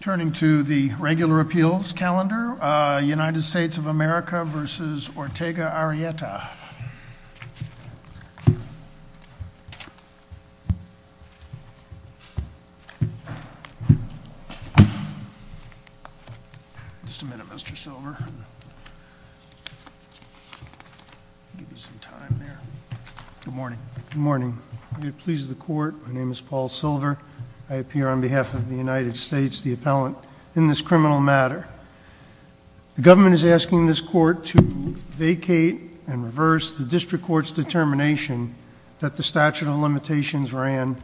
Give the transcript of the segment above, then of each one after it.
Turning to the regular appeals calendar, United States of America v. Ortega Arrieta. Just a minute, Mr. Silver. Good morning. Good morning. May it please the court, my name is John Silver, and I'm the attorney general of the United States, the appellant, in this criminal matter. The government is asking this court to vacate and reverse the district court's determination that the statute of limitations ran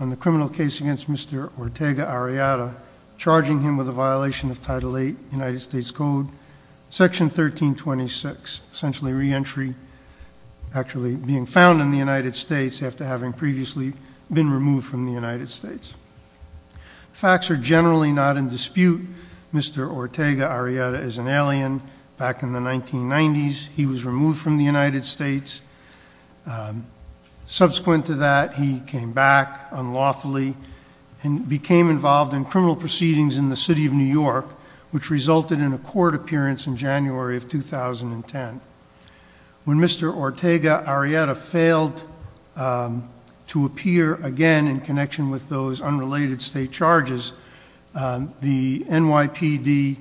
on the criminal case against Mr. Ortega Arrieta, charging him with a violation of Title VIII United States Code, Section 1326, essentially re-entry, actually being found in the United States after having previously been removed from the United States. The facts are generally not in dispute. Mr. Ortega Arrieta is an alien. Back in the 1990s, he was removed from the United States. Subsequent to that, he came back unlawfully and became involved in criminal proceedings in the city of New York, which resulted in a court appearance in January of 2010. When Mr. Ortega Arrieta failed to appear again in connection with those unrelated state charges, the NYPD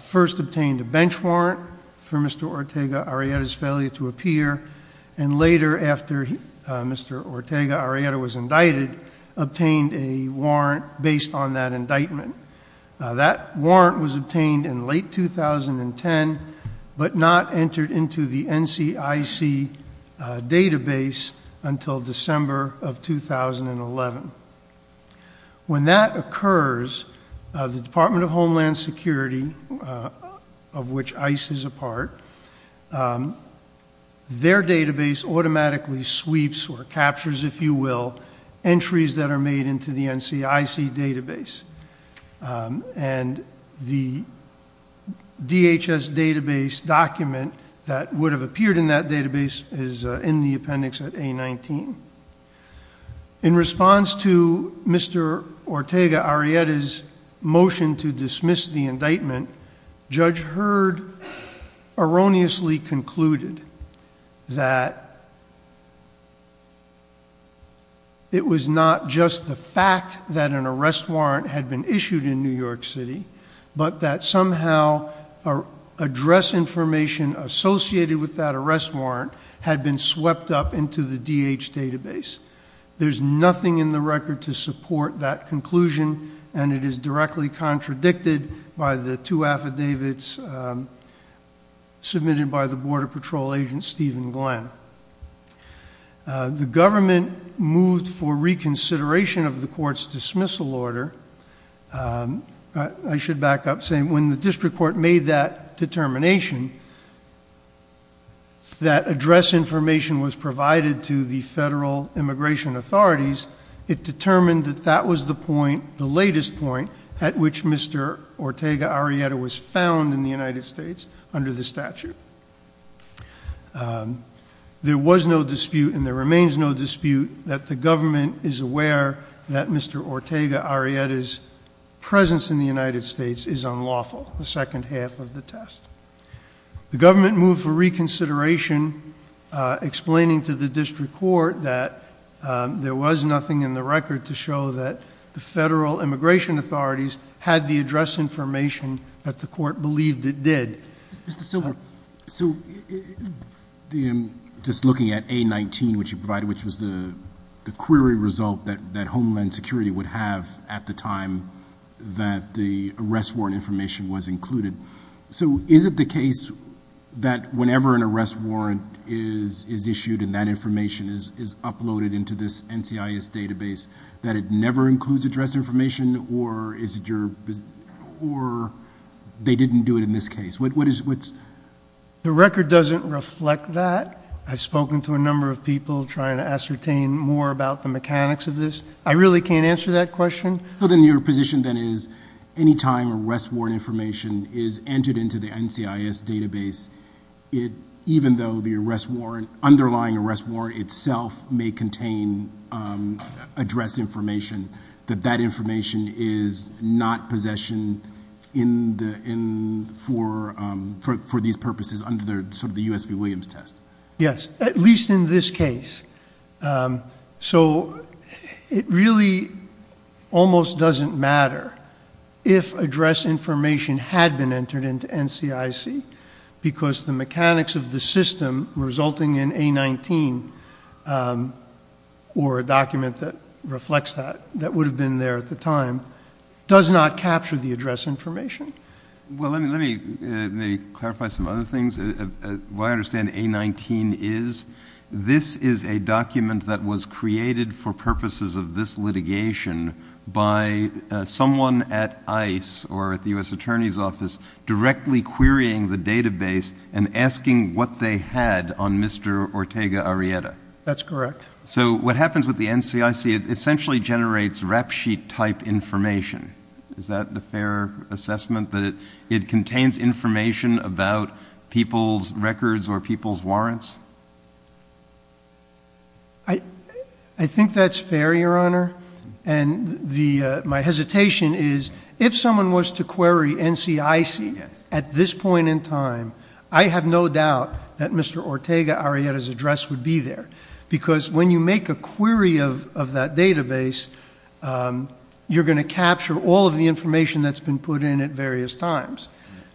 first obtained a bench warrant for Mr. Ortega Arrieta's failure to appear, and later, after Mr. Ortega Arrieta was indicted, obtained a warrant based on that indictment. That warrant was obtained in late 2010, but not entered into the NCIC database until December of 2011. When that occurs, the Department of Homeland Security, of which ICE is a part, their database automatically sweeps, or captures, if you will, entries that are made into the NCIC database. And the DHS database document that would have appeared in that database is in the appendix at A19. In response to Mr. Ortega Arrieta's motion to dismiss the indictment, Judge Hurd erroneously concluded that it was not just the fact that an arrest warrant had been issued in New York City, but that somehow address information associated with that arrest warrant had been swept up into the DH database. There's nothing in the record to support that conclusion, and it is directly contradicted by the two affidavits submitted by the Border Patrol agent Stephen Glenn. The government moved for reconsideration of the court's dismissal order. I should back up, saying when the district court made that determination, that address information was provided to the federal immigration authorities, it determined that that was the point, the latest point, at which Mr. Ortega Arrieta was found in the United States under the statute. There was no dispute, and there remains no dispute, that the government is Ortega Arrieta's presence in the United States is unlawful, the second half of the test. The government moved for reconsideration, explaining to the district court that there was nothing in the record to show that the federal immigration authorities had the address information that the court believed it did. Mr. Silver. So just looking at A19, which you provided, which was the query result that Homeland Security would have at the time that the arrest warrant information was included. So is it the case that whenever an arrest warrant is issued and that information is uploaded into this NCIS database, that it never includes address information, or they didn't do it in this case? The record doesn't reflect that. I've spoken to a number of people trying to ascertain more about the mechanics of this. I really can't answer that question. So then your position then is, any time an arrest warrant information is entered into the NCIS database, even though the arrest warrant, underlying arrest warrant itself may contain address information, that that information is not possession for these purposes under sort of the U.S. v. Williams test? Yes, at least in this case. So it really almost doesn't matter if address information had been entered into NCIS, because the mechanics of the system resulting in A19, or a document that reflects that, that would have been there at the time, does not capture the address information. Well, let me clarify some other things. What I understand A19 is, this is a document that was created for purposes of this litigation by someone at ICE or at the U.S. Attorney's Office directly querying the database and asking what they had on Mr. Ortega Arrieta. That's correct. So what happens with the NCIS, it essentially generates rap sheet type information. Is that a fair assessment that it contains information about people's records or people's warrants? I think that's fair, Your Honor. And my hesitation is, if someone was to query NCIS at this point in time, I have no doubt that Mr. Ortega Arrieta's address would be there. Because when you make a query of that database, you're going to capture all of the information that's been put in at various times.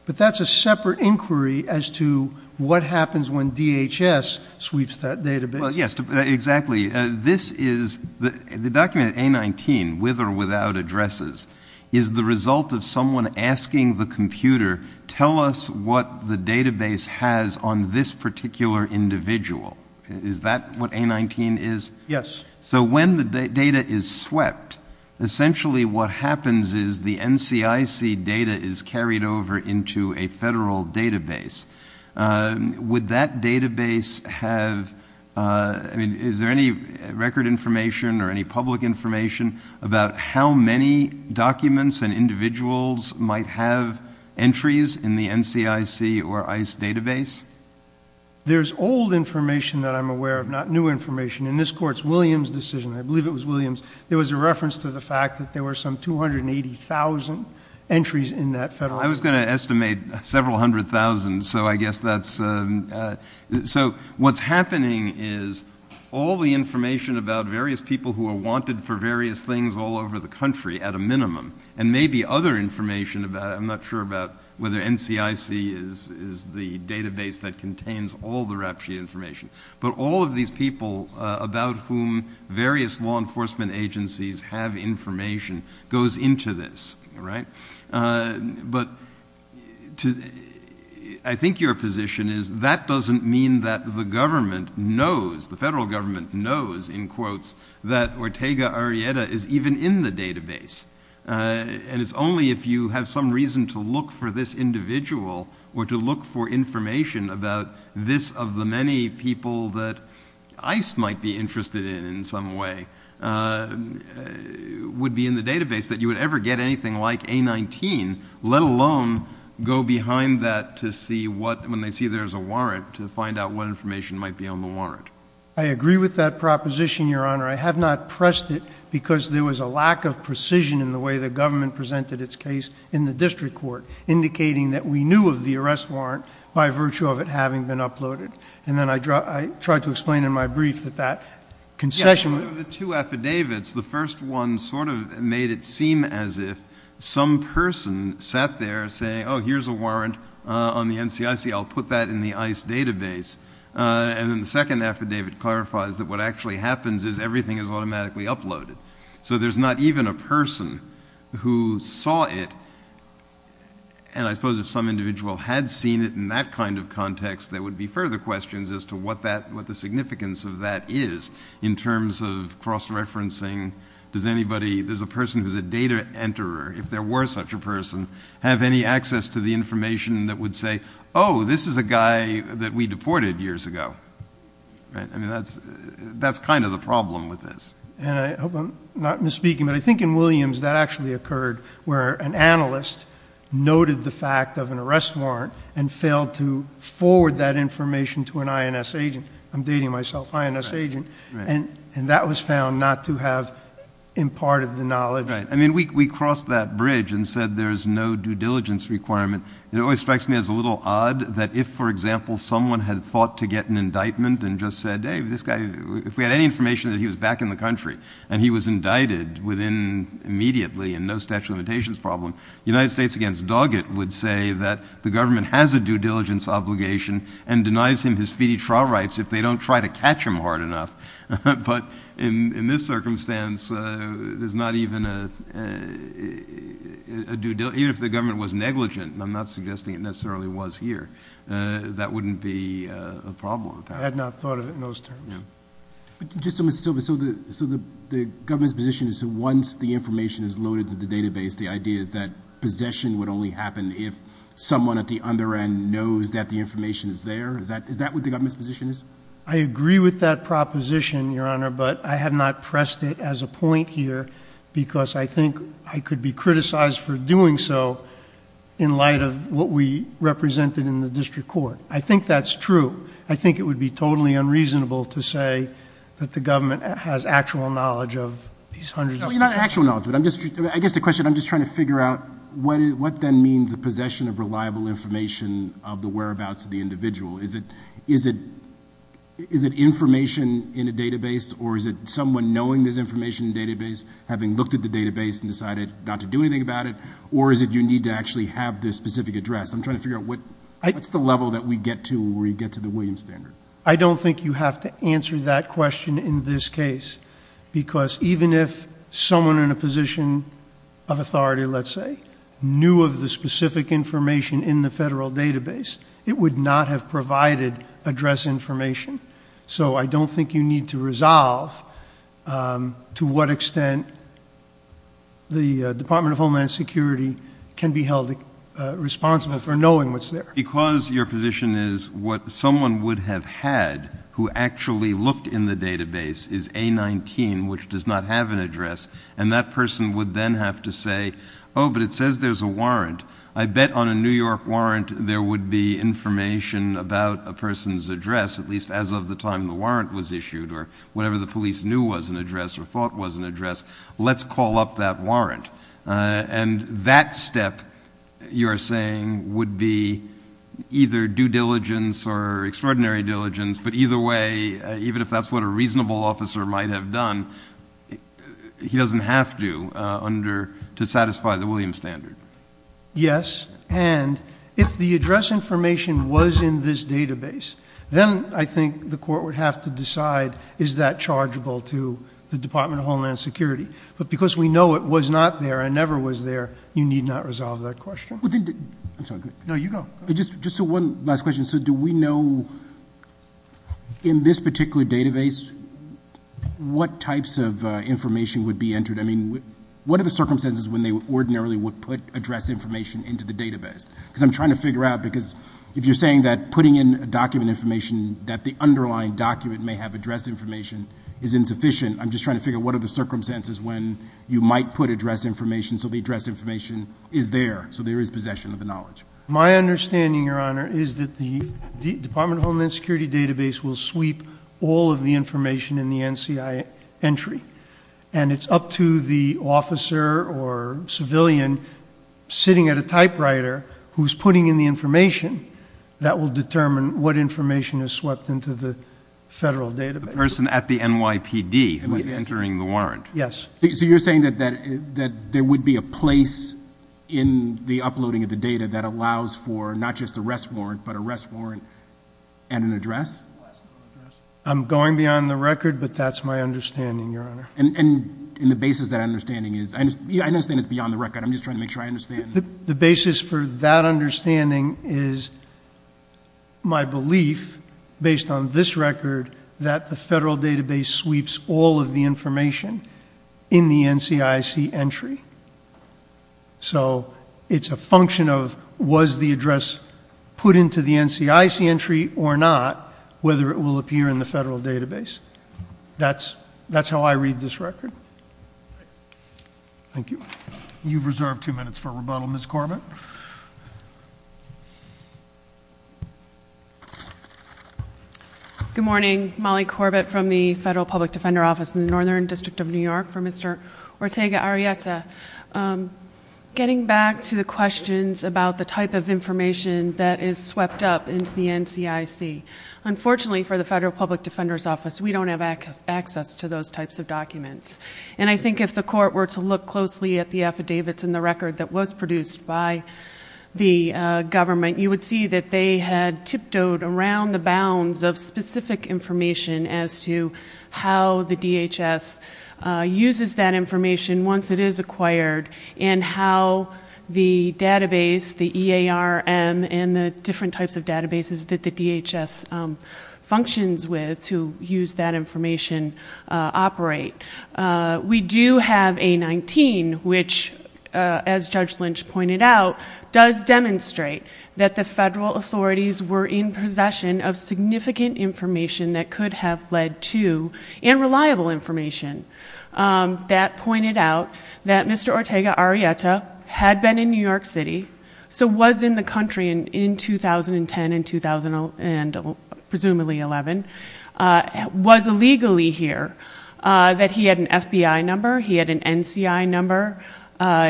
But that's a separate inquiry as to what happens when DHS sweeps that database. Exactly. This is, the document A19, with or without addresses, is the result of someone asking the computer, tell us what the database has on this particular individual. Is that what A19 is? Yes. So when the data is swept, essentially what happens is the NCIS data is carried over into a federal database. Would that database have, is there any record information or any public information about how many documents and individuals might have entries in the NCIS or ICE database? There's old information that I'm aware of, not new information. In this Court's Williams decision, I believe it was Williams, there was a reference to the fact that there were some 280,000 entries in that federal database. I was going to estimate several hundred thousand, so I guess that's, so what's happening is all the information about various people who are wanted for various things all over the country at a minimum, and maybe other information about, I'm not sure about whether NCIC is the database that contains all the RAPTURE information, but all of these people about whom various law enforcement agencies have information goes into this, right? But I think your position is that doesn't mean that the government knows, the federal government knows, in quotes, that Ortega Arrieta is even in the database, and it's only if you have some individual or to look for information about this of the many people that ICE might be interested in, in some way, would be in the database that you would ever get anything like A-19, let alone go behind that to see what, when they see there's a warrant, to find out what information might be on the warrant. I agree with that proposition, Your Honor. I have not pressed it because there was a case in the district court indicating that we knew of the arrest warrant by virtue of it having been uploaded. And then I tried to explain in my brief that that concession would Yeah, but of the two affidavits, the first one sort of made it seem as if some person sat there saying, oh, here's a warrant on the NCIC. I'll put that in the ICE database. And then the second affidavit clarifies that what actually happens is everything is automatically uploaded. So there's not even a person who saw it. And I suppose if some individual had seen it in that kind of context, there would be further questions as to what the significance of that is in terms of cross-referencing. Does anybody, there's a person who's a data enterer, if there were such a person, have any access to the information that would say, oh, this is a guy that we deported years ago. I mean, that's kind of the problem with this. And I hope I'm not misspeaking, but I think in Williams, that actually occurred where an analyst noted the fact of an arrest warrant and failed to forward that information to an INS agent. I'm dating myself, INS agent. And that was found not to have imparted the knowledge. Right. I mean, we crossed that bridge and said there's no due diligence requirement. It always strikes me as a little odd that if, for example, someone had thought to get an indictment and just said, hey, this guy, if we had any information that he was back in the country and he was indicted within, immediately, and no statute of limitations problem, United States against Doggett would say that the government has a due diligence obligation and denies him his feedy trial rights if they don't try to catch him hard enough. But in this circumstance, there's not even a due, even if the government was negligent, and I'm not suggesting it necessarily was here, that wouldn't be a problem. I had not thought of it in those terms. Just so, Mr. Silva, so the government's position is that once the information is loaded into the database, the idea is that possession would only happen if someone at the under end knows that the information is there? Is that what the government's position is? I agree with that proposition, Your Honor, but I have not pressed it as a point here because I think I could be criticized for doing so in light of what we represented in the district court. I think that's true. I think it would be totally unreasonable to say that the government has actual knowledge of these hundreds of... You're not actual knowledge, but I guess the question, I'm just trying to figure out what then means a possession of reliable information of the whereabouts of the individual? Is it information in a database or is it someone knowing there's information in the database having looked at the database and decided not to do anything about it, or is it you need to actually have this specific address? I'm trying to figure out what's the level that we get to where you get to the Williams standard. I don't think you have to answer that question in this case because even if someone in a position of authority, let's say, knew of the specific information in the federal database, it would not have provided address information. So I don't think you need to resolve to what extent the Department of Homeland Security can be held responsible for knowing what's there. Because your position is what someone would have had who actually looked in the database is A19, which does not have an address, and that person would then have to say, oh, but it says there's a warrant. I bet on a New York warrant there would be information about a person's address, at least as of the time the warrant was issued or whenever the police knew was an address or thought was an address. Let's call up that warrant. And that step, you're saying, would be either due diligence or extraordinary diligence. But either way, even if that's what a reasonable officer might have done, he doesn't have to satisfy the Williams standard. Yes. And if the address information was in this database, then I think the court would have to decide is that chargeable to the Department of Homeland Security. But because we know what was not there and never was there, you need not resolve that question. I'm sorry. No, you go. Just one last question. So do we know in this particular database what types of information would be entered? I mean, what are the circumstances when they ordinarily would put address information into the database? Because I'm trying to figure out, because if you're saying that putting in a document information that the underlying document may have address information is insufficient, I'm just trying to figure out what are the circumstances when you might put address information so the address information is there, so there is possession of the knowledge. My understanding, Your Honor, is that the Department of Homeland Security database will sweep all of the information in the NCI entry. And it's up to the officer or civilian sitting at a typewriter who's putting in the information that will determine what information is swept into the federal database. The person at the NYPD who was entering the warrant. Yes. So you're saying that there would be a place in the uploading of the data that allows for not just a rest warrant, but a rest warrant and an address? I'm going beyond the record, but that's my understanding, Your Honor. And the basis of that understanding is? I understand it's beyond the record. I'm just trying to make sure I understand. The basis for that understanding is my belief, based on this record, that the federal database sweeps all of the information in the NCIC entry. So it's a function of was the address put into the NCIC entry or not, whether it will appear in the federal database. That's how I read this record. Thank you. You've reserved two minutes for rebuttal. Ms. Corbett. Good morning. Molly Corbett from the Federal Public Defender Office in the Northern District of New York for Mr. Ortega-Arieta. Getting back to the questions about the type of information that is swept up into the NCIC, unfortunately for the Federal Public Defender's Office, we don't have access to those types of documents. And I think if the court were to look closely at the affidavits and the record that was produced by the government, you would see that they had tiptoed around the bounds of specific information as to how the DHS uses that information once it is acquired and how the database, the EARM and the different types of databases that the DHS functions with to use that information operate. We do have A-19, which, as Judge Lynch pointed out, does demonstrate that the federal authorities were in possession of significant information that could have led to, and reliable information. That pointed out that Mr. Ortega-Arieta had been in New York City, so was in the country in 2010 and, presumably, 2011, was illegally here. That he had been in New York City and he had an FBI number, he had an NCI number,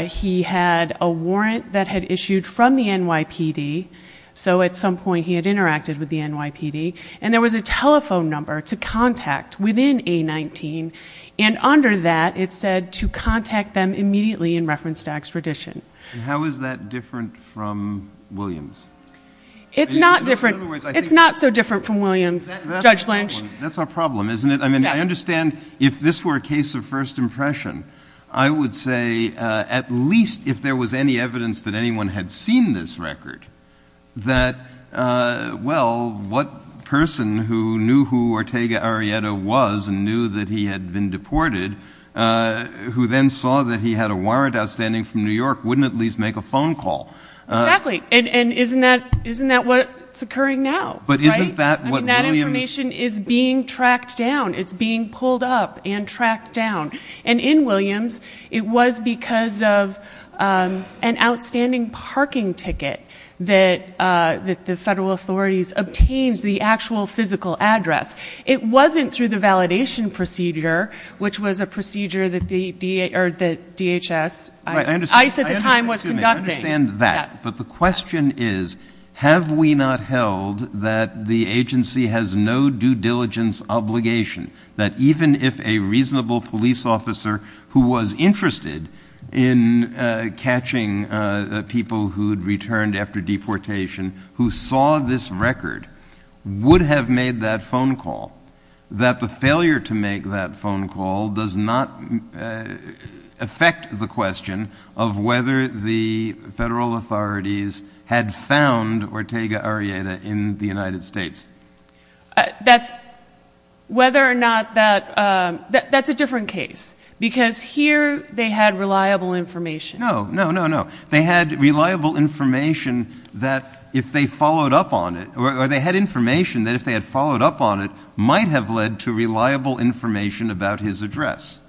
he had a warrant that had issued from the NYPD, so at some point he had interacted with the NYPD, and there was a telephone number to contact within A-19, and under that it said to contact them immediately in reference to extradition. How is that different from Williams? It's not different. It's not so different from Williams, Judge Lynch. That's our problem, isn't it? I mean, I understand if this were a case of first impression, I would say, at least if there was any evidence that anyone had seen this record, that, well, what person who knew who Ortega-Arieta was and knew that he had been deported, who then saw that he had a warrant outstanding from New York, wouldn't at least make a phone call? Exactly. And isn't that what's occurring now? Right. I mean, that information is being tracked down. It's being pulled up and tracked down. And in Williams, it was because of an outstanding parking ticket that the federal authorities obtained the actual physical address. It wasn't through the validation procedure, which was a procedure that DHS, ICE at the time, was conducting. I understand that. But the question is, have we not held that the agency has no due diligence obligation, that even if a reasonable police officer who was interested in catching people who had returned after deportation, who saw this record, would have made that phone call, that the failure to make that phone call does not affect the question of whether the person the federal authorities had found Ortega-Arieta in the United States? Whether or not that, that's a different case. Because here, they had reliable information. No, no, no, no. They had reliable information that if they followed up on it, or they had information that if they had followed up on it, might have led to reliable information about his address.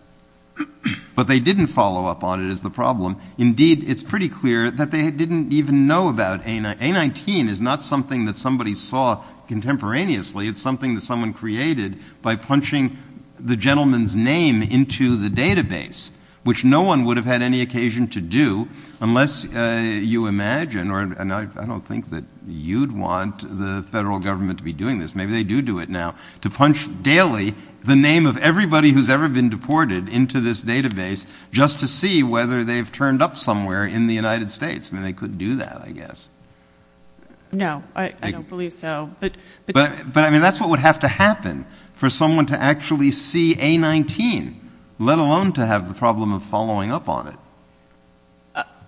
But they didn't follow up on it as the problem. Indeed, it's pretty clear that they didn't even know about A19. A19 is not something that somebody saw contemporaneously. It's something that someone created by punching the gentleman's name into the database, which no one would have had any occasion to do, unless you imagine, and I don't think that you'd want the federal government to be doing this. Maybe they do do it now, to punch daily the name of everybody who's ever been deported into this database, just to see whether they've turned up somewhere in the United States. I mean, they could do that, I guess. No, I don't believe so. But, I mean, that's what would have to happen for someone to actually see A19, let alone to have the problem of following up on it.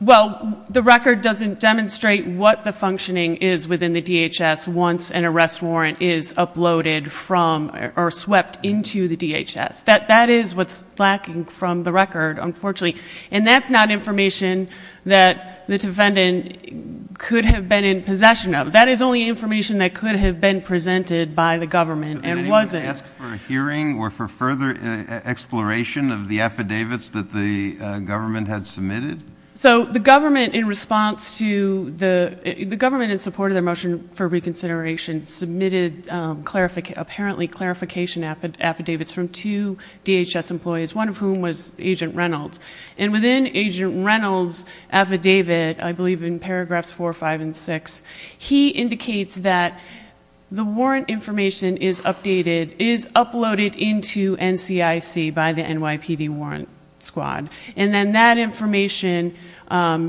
Well, the record doesn't demonstrate what the functioning is within the DHS once an arrest warrant is uploaded from, or swept into the DHS. That is what's lacking from the record, unfortunately. And that's not information that the defendant could have been in possession of. That is only information that could have been presented by the government, and wasn't. Did anyone ask for a hearing, or for further exploration of the affidavits that the government had submitted? So, the government, in response to the, the government, in support of their motion for reconsideration, submitted apparently clarification affidavits from two DHS employees, one of whom was Agent Reynolds. And within Agent Reynolds' affidavit, I believe in paragraphs 4, 5, and 6, he indicates that the warrant information is updated, is uploaded into NCIC by the NYPD warrant squad. And then that information, the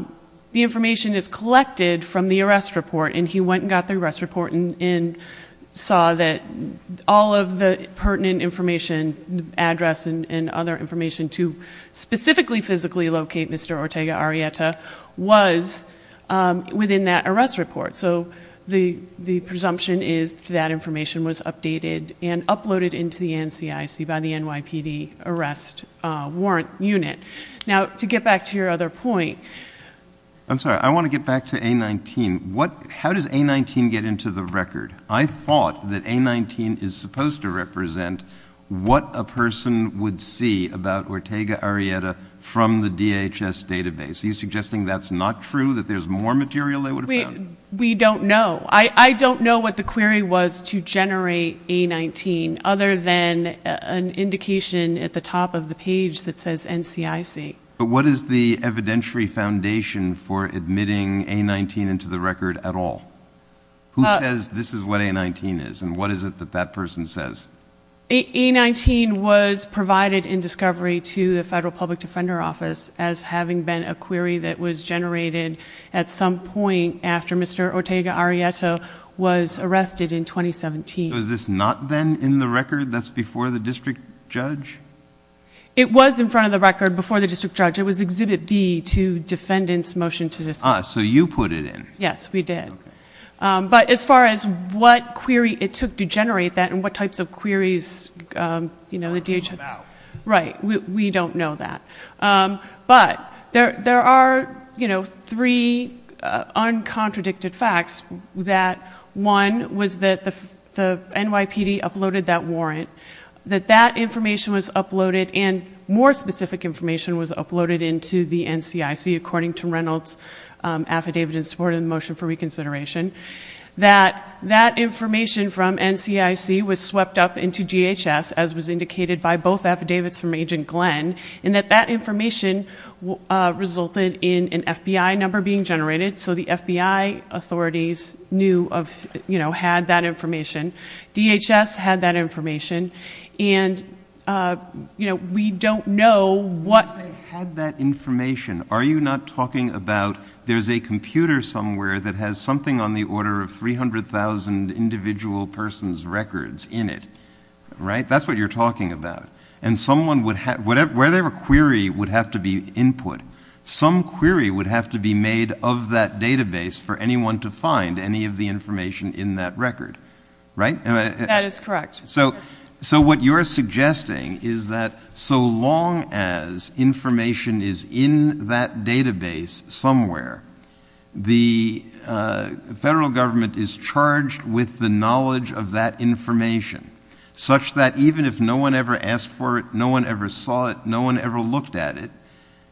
information is collected from the arrest report. And he went and got the arrest report, and saw that all of the pertinent information, address, and other information to specifically, physically locate Mr. Ortega-Arieta was within that arrest report. So, the, the presumption is that information was updated and uploaded into the NCIC by the NYPD arrest warrant unit. Now, to get back to your other point... I'm sorry. I want to get back to A-19. What, how does A-19 get into the record? I thought that A-19 is supposed to represent what a person would see about Ortega-Arieta from the DHS database. Are you suggesting that's not true, that there's more material they would have found? We, we don't know. I, I don't know what the query was to generate A-19, other than an indication at the top of the page that says NCIC. But what is the evidentiary foundation for admitting A-19 into the record at all? Who says this is what A-19 is, and what is it that that person says? A-19 was provided in discovery to the Federal Public Defender Office as having been a query that was generated at some point after Mr. Ortega-Arieta was arrested in 2017. So, is this not then in the record that's before the district judge? It was in front of the record before the district judge. It was Exhibit B to defendant's motion to dismiss. Ah, so you put it in. Yes, we did. But as far as what query it took to generate that and what types of queries, you know, the DHS... We don't know. Right. We, we don't know that. But there, there are, you know, three uncontradicted facts that one was that the, the NYPD uploaded that warrant, that that information was uploaded and more specific information was uploaded into the NCIC according to Reynolds Affidavit in support of the motion for reconsideration. That, that information from NCIC was swept up into DHS, as was indicated by both affidavits from Agent Glenn, and that that information resulted in an FBI number being generated. So the FBI authorities knew of, you know, had that information. DHS had that information. And, you know, we don't know what... Information. Are you not talking about there's a computer somewhere that has something on the order of 300,000 individual person's records in it, right? That's what you're talking about. And someone would have, whatever, wherever query would have to be input, some query would have to be made of that database for anyone to find any of the information in that record, right? That is correct. So what you're suggesting is that so long as information is in that database somewhere, the federal government is charged with the knowledge of that information, such that even if no one ever asked for it, no one ever saw it, no one ever looked at it,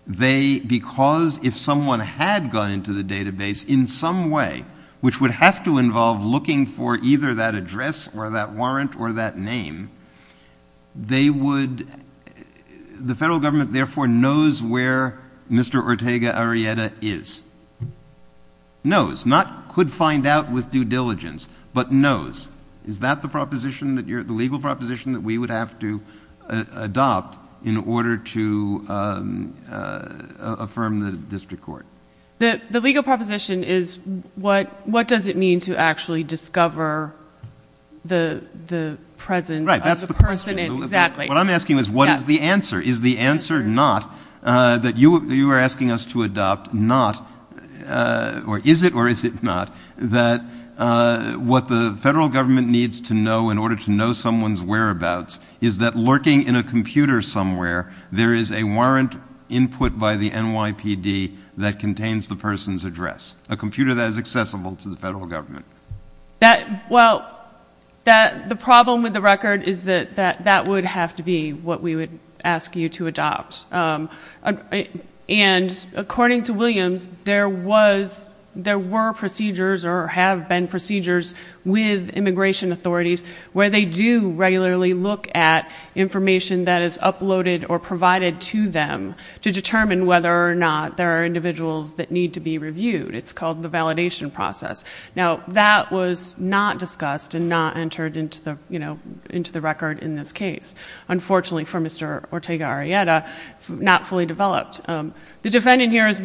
they, because if someone had gone into the database in some way, which would have to involve looking for either that address or that warrant or that name, they would... The federal government therefore knows where Mr. Ortega Arrieta is. Knows, not could find out with due diligence, but knows. Is that the proposition that you're, the legal proposition that we would have to adopt in order to affirm the district court? The legal proposition is what does it mean to actually discover the presence of the person? Right, that's the question. Exactly. What I'm asking is what is the answer? Is the answer not that you are asking us to adopt not, or is it or is it not, that what the federal government needs to know in order to know someone's whereabouts is that lurking in a computer somewhere, there is a warrant input by the NYPD that contains the person's address, a computer that is accessible to the federal government? That, well, that, the problem with the record is that that would have to be what we would ask you to adopt. And according to Williams, there was, there were procedures or have been procedures with immigration authorities where they do regularly look at information that is uploaded or provided to them to determine whether or not there are individuals that need to be reviewed. It's called the validation process. Now, that was not discussed and not entered into the, you know, into the record in this case. Unfortunately for Mr. Ortega-Arieta, not fully developed. The defendant here is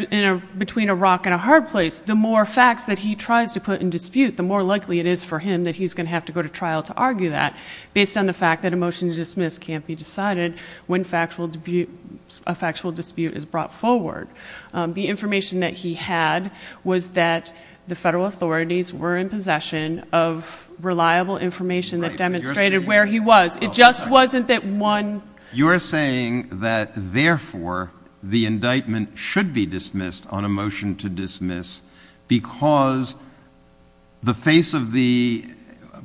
between a rock and a hard place. The more facts that he tries to put in dispute, the more likely it is for him that he's going to have to go to trial to argue that based on the fact that a motion to dismiss can't be decided when factual dispute, a factual dispute is brought forward. The information that he had was that the federal authorities were in possession of reliable information that demonstrated where he was. It just wasn't that one. You're saying that therefore the indictment should be dismissed on a motion to dismiss because the face of the,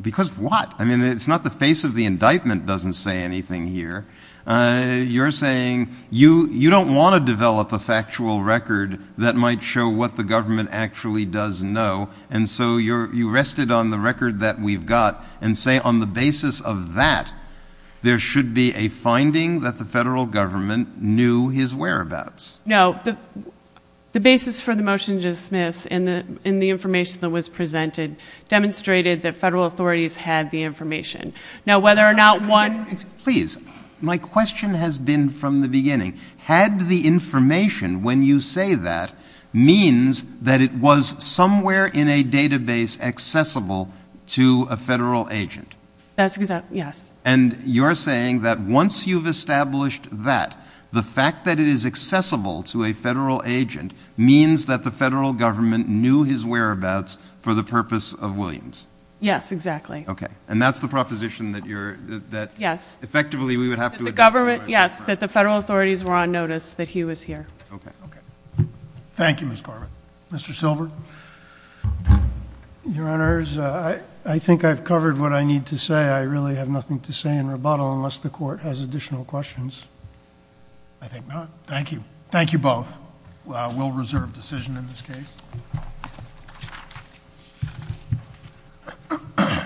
because what? I mean, it's not the face of the indictment doesn't say anything here. You're saying you don't want to develop a factual record that might show what the government actually does know and so you rested on the record that we've got and say on the basis of that, there should be a finding that the federal government knew his whereabouts. No. The basis for the motion to dismiss and the information that was presented demonstrated that federal authorities had the information. Now, whether or not one, please, my question has been from the beginning, had the information when you say that means that it was somewhere in a database accessible to a federal agent. That's because, yes. And you're saying that once you've established that the fact that it is accessible to a federal agent means that the federal government knew his whereabouts for the purpose of Williams. Yes, exactly. Okay. And that's the proposition that you're, that effectively we would have to admit to him. Yes. That the federal authorities were on notice that he was here. Thank you, Ms. Garvin. Mr. Silver? Your Honors, I think I've covered what I need to say. I really have nothing to say in rebuttal unless the court has additional questions. I think not. Thank you. Thank you both. We'll reserve decision in this case.